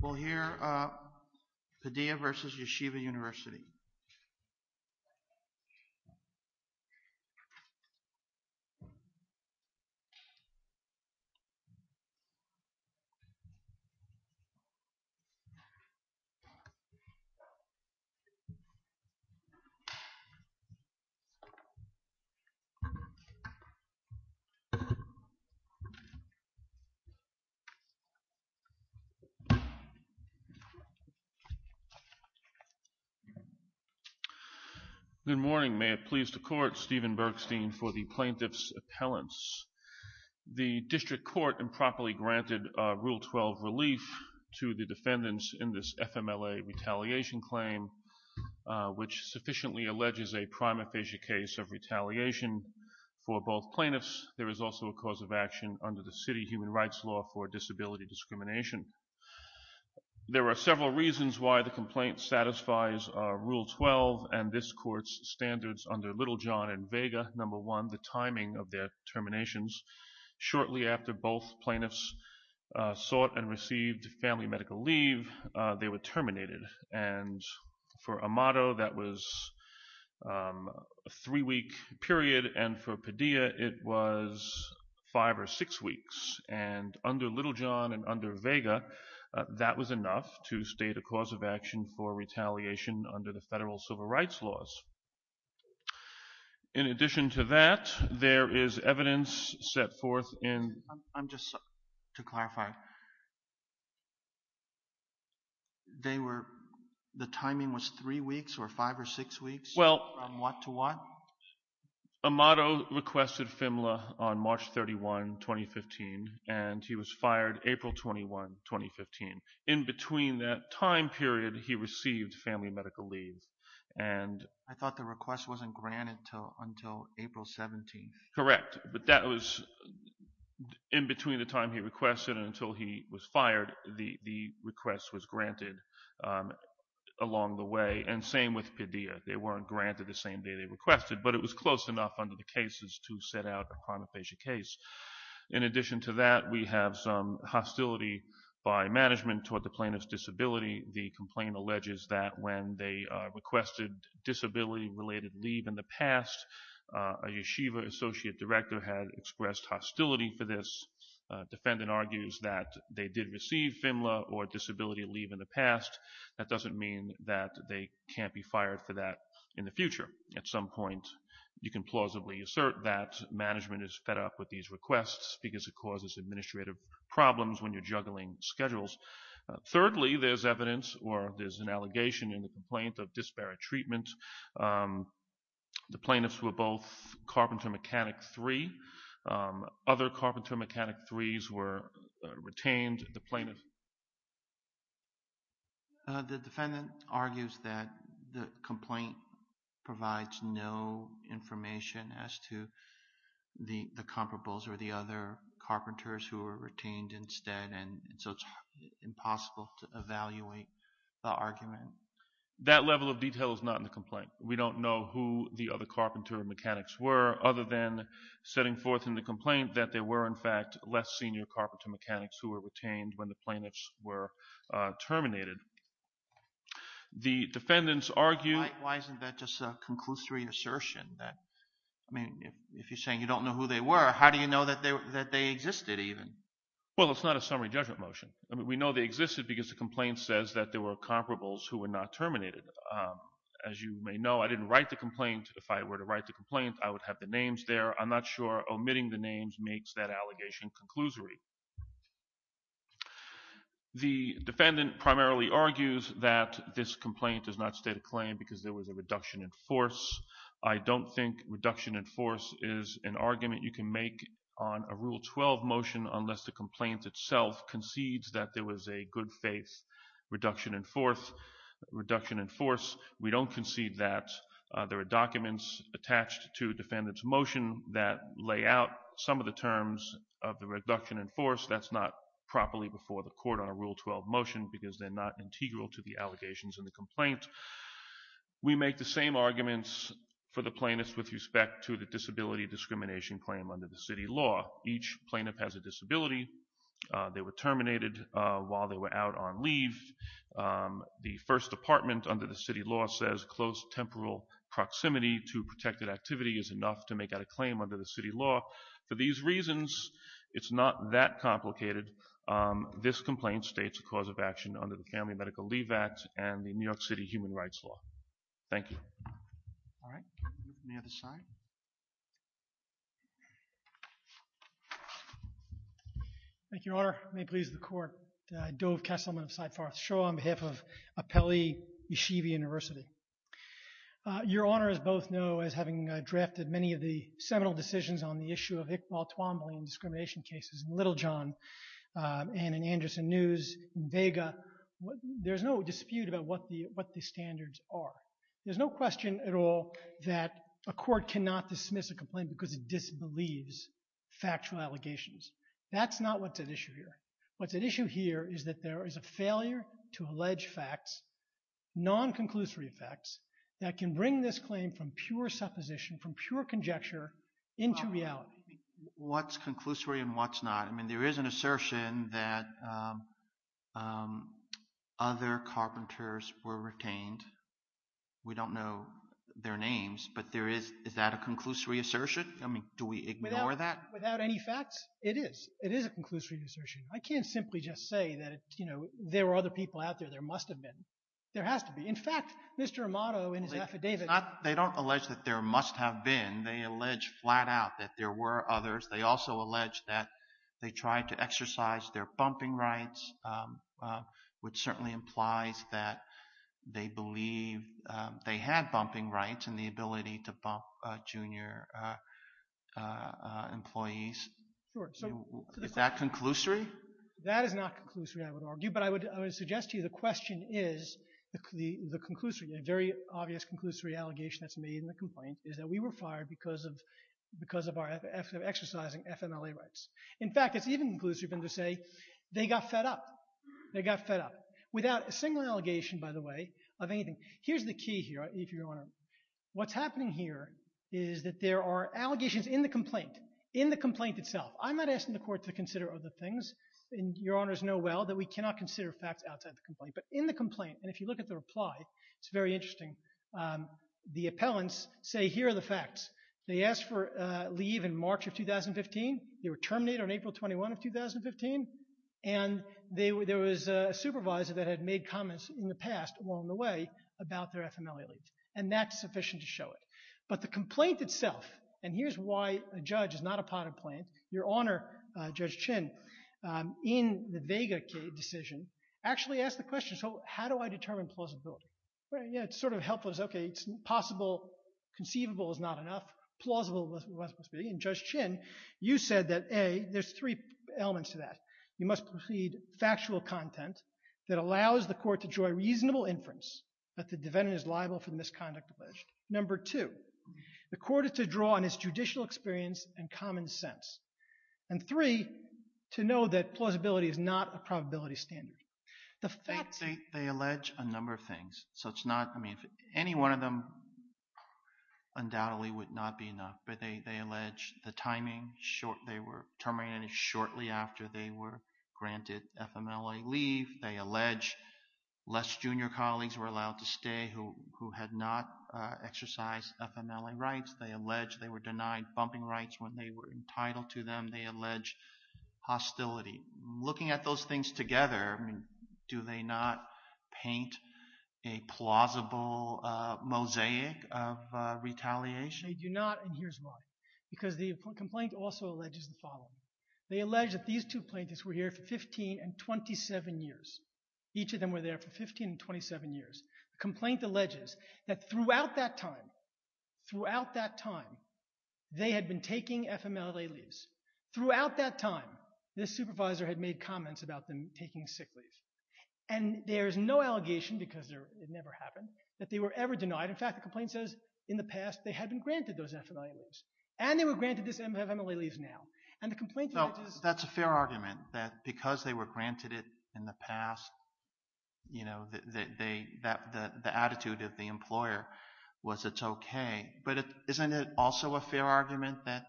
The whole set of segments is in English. We'll hear Padilla v. Yeshiva University Good morning. May it please the Court, Stephen Bergstein for the Plaintiff's Appellants. The District Court improperly granted Rule 12 relief to the defendants in this FMLA retaliation claim which sufficiently alleges a prima facie case of retaliation for both plaintiffs. There is also a cause of action under the City Human Rights Law for disability discrimination. There are several reasons why the complaint satisfies Rule 12 and this Court's standards under Littlejohn and Vega. Number one, the timing of their terminations. Shortly after both plaintiffs sought and received family medical leave, they were terminated. And for the three-week period and for Padilla, it was five or six weeks. And under Littlejohn and under Vega, that was enough to state a cause of action for retaliation under the Federal Civil Rights Laws. In addition to that, there is evidence set forth in... I'm just, to clarify, they were, the timing was three weeks or five or six weeks? Well... From what to what? Amado requested FMLA on March 31, 2015 and he was fired April 21, 2015. In between that time period, he received family medical leave and... I thought the request wasn't granted until April 17th. Correct. But that was in between the time he requested and until he was fired, the request was granted along the way. And same with Padilla. They weren't granted the same day they requested, but it was close enough under the cases to set out a pronophasia case. In addition to that, we have some hostility by management toward the plaintiff's disability. The complaint alleges that when they requested disability-related leave in the past, a Yeshiva associate director had expressed hostility for this. Defendant argues that they did receive FMLA or disability leave in the past. That doesn't mean that they can't be fired for that in the future. At some point, you can plausibly assert that management is fed up with these requests because it causes administrative problems when you're juggling schedules. Thirdly, there's evidence or there's an allegation in the complaint of disparate treatment. The plaintiffs were both Carpenter Mechanic III. Other Carpenter Mechanic IIIs were retained. The defendant argues that the complaint provides no information as to the comparables or the other Carpenters who were retained instead, and so it's impossible to evaluate the argument. That level of detail is not in the complaint. We don't know who the other Carpenter Mechanics were other than setting forth in the complaint that there were, in fact, less senior Carpenter Mechanics who were retained when the plaintiffs were terminated. The defendants argue— Why isn't that just a conclusory assertion? I mean, if you're saying you don't know who they were, how do you know that they existed even? Well, it's not a summary judgment motion. I mean, we know they existed because the complaint says that there were comparables who were not terminated. As you may know, I didn't write the complaint. If I were to write the complaint, I would have the names there. I'm The defendant primarily argues that this complaint does not state a claim because there was a reduction in force. I don't think reduction in force is an argument you can make on a Rule 12 motion unless the complaint itself concedes that there was a good-faith reduction in force. We don't concede that. There are documents attached to defendant's motion that lay out some of the terms of the reduction in force. That's not properly before the court on a Rule 12 motion because they're not integral to the allegations in the complaint. We make the same arguments for the plaintiffs with respect to the disability discrimination claim under the city law. Each plaintiff has a disability. They were terminated while they were out on leave. The First Department under the city law says close temporal proximity to protected activity is enough to make that a claim under the city law. For these reasons, it's not that complicated. This complaint states a cause of action under the Family Medical Leave Act and the New York City Human Rights Law. Thank you. All right. Any other side? Thank you, Your Honor. May it please the Court. Dov Kesselman of Syed Farth Shaw on behalf of Apelli Yeshiva University. Your Honor, as both know, as having drafted many of the seminal decisions on the issue of Iqbal Twombly and discrimination cases in Little John and in Anderson News and Vega, there's no dispute about what the standards are. There's no question at all that a court cannot dismiss a complaint because it disbelieves factual allegations. That's not what's at issue here. What's at issue here is that there is a failure to allege facts, non-conclusory facts, that can bring this claim from pure supposition, from pure conjecture into reality. What's conclusory and what's not? I mean, there is an assertion that other carpenters were retained. We don't know their names, but is that a conclusory assertion? I mean, do we ignore that? Without any facts, it is. It is a conclusory assertion. I can't simply just say that, you know, there were other people out there. There must have been. There has to be. In fact, Mr. Amato in his affidavit... They don't allege that there must have been. They allege flat out that there were others. They also allege that they tried to exercise their bumping rights, which certainly implies that they believe they had bumping rights and the ability to bump junior employees. Is that conclusory? That is not conclusory, I would argue, but I would suggest to you the question is, the conclusory, a very obvious conclusory allegation that's made in the complaint, is that we were fired because of our exercising FMLA rights. In fact, it's even conclusive to say they got fed up. They got fed up. Without a single allegation, by the way, of anything. Here's the key here, if you don't mind. What's happening here is that there are allegations in the complaint, in the complaint itself. I'm not asking the court to consider other things. Your honors know well that we cannot consider facts outside the complaint, but in the complaint, and if you look at the reply, it's very interesting. The appellants say, here are the facts. They asked for leave in March of 2015. They were terminated on April 21 of 2015, and there was a supervisor that had made comments in the past along the way about their FMLA leave, and that's sufficient to show it. But the complaint itself, and here's why a judge is not a potted plant, your honor, Judge Chin, in the Vega decision, actually asked the question, so how do I determine plausibility? It's sort of helpful, it's okay, it's possible, conceivable is not enough. Plausible is what it must be, and Judge Chin, you said that, A, there's three elements to that. You must precede factual content that allows the court to draw a reasonable inference that the defendant is liable for the misconduct alleged. Number two, the court is to draw on his judicial experience and common sense. And three, to know that plausibility is not a probability standard. The facts... Any one of them undoubtedly would not be enough, but they allege the timing. They were terminated shortly after they were granted FMLA leave. They allege less junior colleagues were allowed to stay who had not exercised FMLA rights. They allege they were denied bumping rights when they were entitled to them. They allege hostility. Looking at those things together, do they not paint a plausible mosaic of retaliation? They do not, and here's why. Because the complaint also alleges the following. They allege that these two plaintiffs were here for 15 and 27 years. Each of them were there for 15 and 27 years. The complaint alleges that throughout that time, throughout that time, they had been taking FMLA leaves. Throughout that time, this supervisor had made comments about them taking sick leave. And there's no allegation, because it never happened, that they were ever denied. In fact, the complaint says, in the past, they had been granted those FMLA leaves. And they were granted this FMLA leave now. And the complaint alleges... No, that's a fair argument, that because they were granted it in the past, you know, the attitude of the employer was it's okay. But isn't it also a fair argument that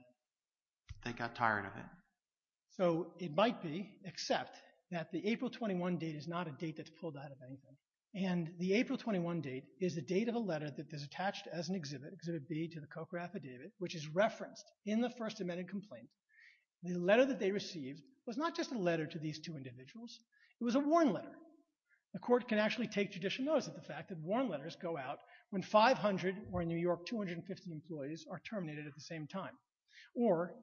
they got tired of it? So it might be, except that the April 21 date is not a date that's pulled out of anything. And the April 21 date is the date of a letter that is attached as an exhibit, Exhibit B, to the COCA affidavit, which is referenced in the First Amendment complaint. The letter that they received was not just a letter to these two individuals. It was a warn letter. The court can actually take judicial notice of the fact that warn letters go out when 500 or, in New York, 250 employees are terminated at the same time. Or,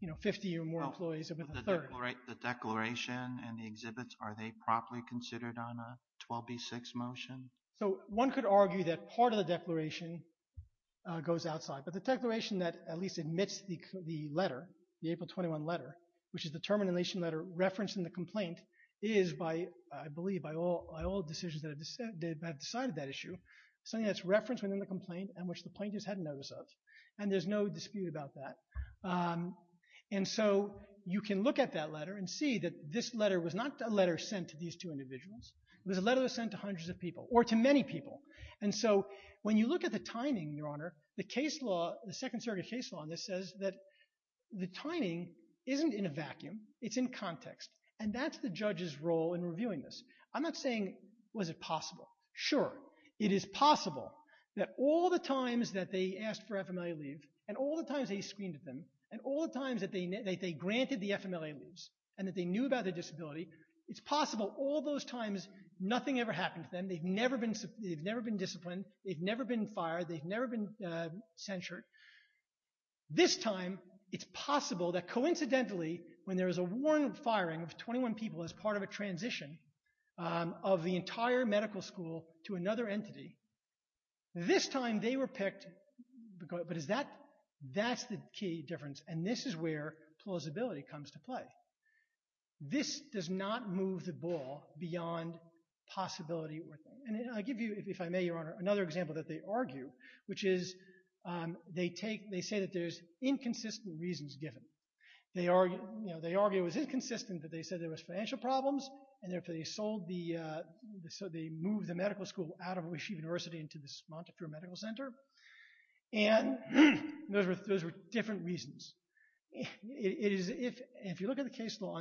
you know, 50 or more employees have been terminated. The declaration and the exhibits, are they properly considered on a 12B6 motion? So one could argue that part of the declaration goes outside. But the declaration that at least admits the letter, the April 21 letter, which is the termination letter referenced in the complaint, is by, I believe, by all decisions that have decided that issue, something that's referenced within the complaint and which the plaintiffs had notice of. And there's no dispute about that. And so you can look at that letter and see that this letter was not a letter sent to these two individuals. It was a letter that was sent to hundreds of people, or to many people. And so when you look at the timing, Your Honor, the case law, the Second Circuit case law on this says that the timing isn't in a vacuum. It's in context. And that's the judge's role in reviewing this. I'm not saying was it possible. Sure, it is possible that all the times that they asked for FMLA leave, and all the times they screened at them, and all the times that they granted the FMLA leaves, and that they knew about their disability, it's possible all those times nothing ever happened to them. They've never been disciplined. They've never been fired. They've never been censured. This time, it's possible that coincidentally, when there is a warranted firing of 21 people as part of a transition of the entire medical school to another entity, this time they were picked. But is that, that's the key difference. And this is where plausibility comes to play. This does not move the ball beyond possibility. And I give you, if I may, Your Honor, another example that they argue, which is they take, they say that there's inconsistent reasons given. They argue, you know, they argue it was inconsistent that they said there was financial problems, and therefore they sold the, so they moved the medical school out of Washington University into this Montefiore Medical Center. And those were, those were different reasons. It is, if you look at the case law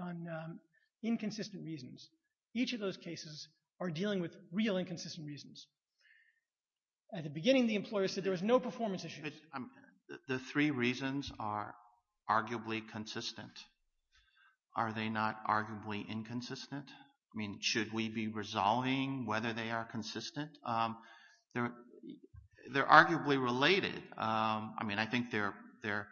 on inconsistent reasons, each of those cases are dealing with real inconsistent reasons. At the beginning, the employer said there was no performance issues. The three reasons are arguably consistent. Are they not arguably inconsistent? I mean, should we be resolving whether they are consistent? They're arguably related. I mean, I think they're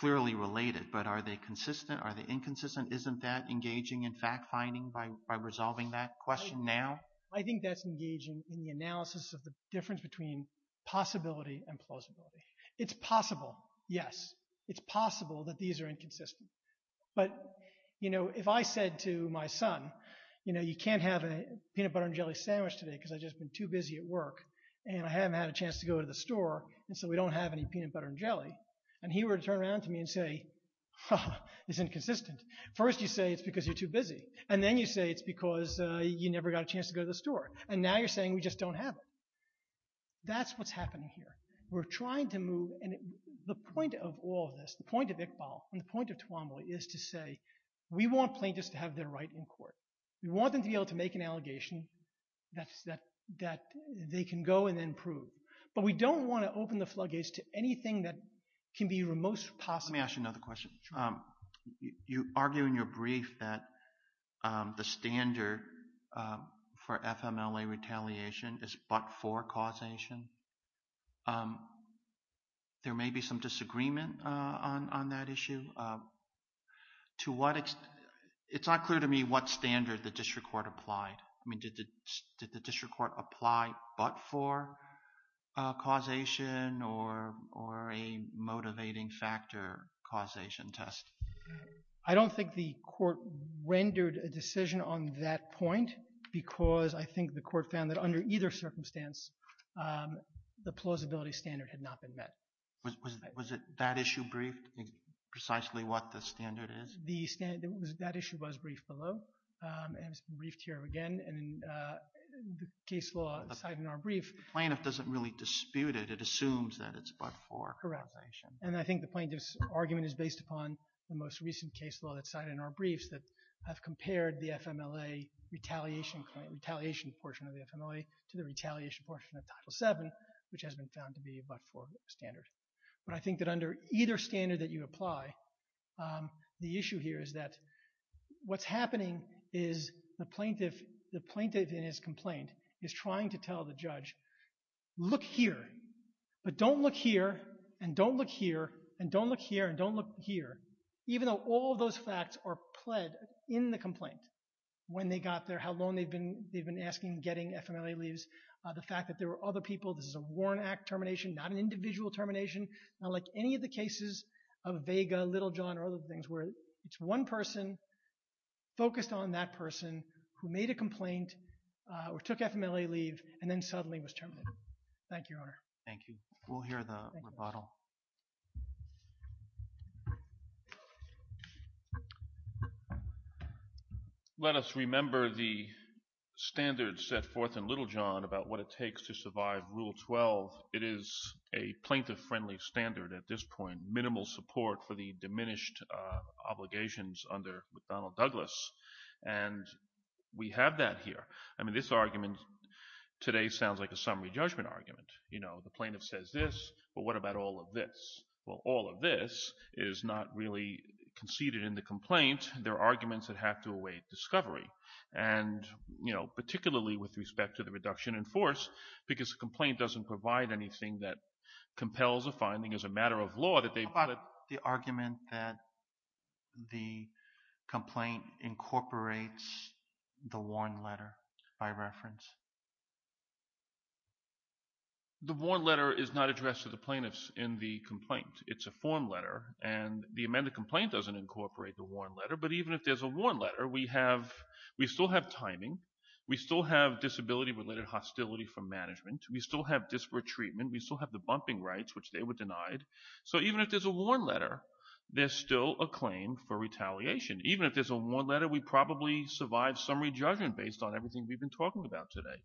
clearly related, but are they consistent? Are they inconsistent? Isn't that engaging in fact-finding by resolving that question now? I think that's engaging in the analysis of the difference between possibility and plausibility. It's possible, yes. It's possible that these are inconsistent. But, you know, if I said to my son, you know, you can't have a peanut butter and jelly sandwich today because I've just been too busy at work and I haven't had a chance to go to the store, and so we don't have any peanut butter and jelly, and he were to turn around to me and say, huh, it's inconsistent. First you say it's because you're too busy. And then you say it's because you never got a chance to go to the store. And now you're saying we just don't have it. That's what's happening here. We're trying to move, and the point of all of this, the point of Iqbal and the point of Toowoomba is to say we want plaintiffs to have their right in court. We want them to be able to make an allegation that they can go and then prove. But we don't want to open the floodgates to anything that can be removed possibly. Let me ask you another question. You argue in your brief that the standard for FMLA retaliation is but-for causation. There may be some disagreement on that issue. To what extent, it's not clear to me what standard the district court applied. I mean, did the district court apply but-for causation or a motivating factor causation test? I don't think the court rendered a decision on that point because I think the court found that under either circumstance, the plausibility standard had not been met. Was it that issue briefed, precisely what the standard is? That issue was briefed below. And it's been briefed here again. And in the case law side in our brief, the plaintiff doesn't really dispute it. It assumes that it's but-for causation. And I think the plaintiff's argument is based upon the most recent case law that's cited in our briefs that have compared the FMLA retaliation claim, retaliation portion of the FMLA to the retaliation portion of Title VII, which has been found to be a but-for standard. But I think that under either standard that you apply, the issue here is that what's in this complaint is trying to tell the judge, look here, but don't look here, and don't look here, and don't look here, and don't look here, even though all those facts are pled in the complaint, when they got there, how long they've been-they've been asking getting FMLA leaves, the fact that there were other people, this is a Warren Act termination, not an individual termination, not like any of the cases of Vega, Little John, or other things where it's one person focused on that person who made a complaint or took FMLA leave and then suddenly was terminated. Thank you, Your Honor. Thank you. We'll hear the rebuttal. Let us remember the standards set forth in Little John about what it takes to survive Rule 12. It is a plaintiff-friendly standard at this point, minimal support for the diminished obligations under McDonnell-Douglas, and we have that here. I mean, this argument today sounds like a summary judgment argument. You know, the plaintiff says this, but what about all of this? Well, all of this is not really conceded in the complaint. There are arguments that have to await discovery, and, you know, particularly with respect to the reduction in force, because the complaint doesn't provide anything that compels a finding as a matter of law. How about the argument that the complaint incorporates the warn letter by reference? The warn letter is not addressed to the plaintiffs in the complaint. It's a form letter, and the amended complaint doesn't incorporate the warn letter, but even if there's a warn letter, we still have timing, we still have disability-related hostility from management, we still have disparate treatment, we still have the bumping rights, which they were denied. So even if there's a warn letter, there's still a claim for retaliation. Even if there's a warn letter, we probably survive summary judgment based on everything we've been talking about today.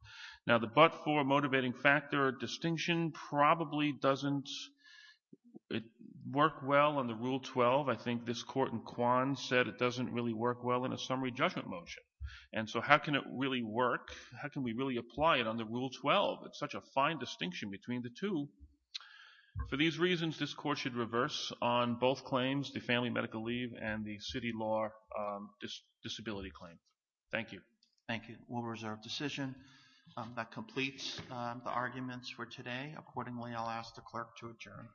Now, the but-for motivating factor distinction probably doesn't work well on the Rule 12. I think this court in Kwan said it doesn't really work well in a summary judgment motion. And so how can it really work? How can we really apply it on the Rule 12? It's such a fine distinction between the two. For these reasons, this court should reverse on both claims, the family medical leave and the city law disability claim. Thank you. Thank you. We'll reserve decision. That completes the arguments for today. Accordingly, I'll ask the clerk to adjourn.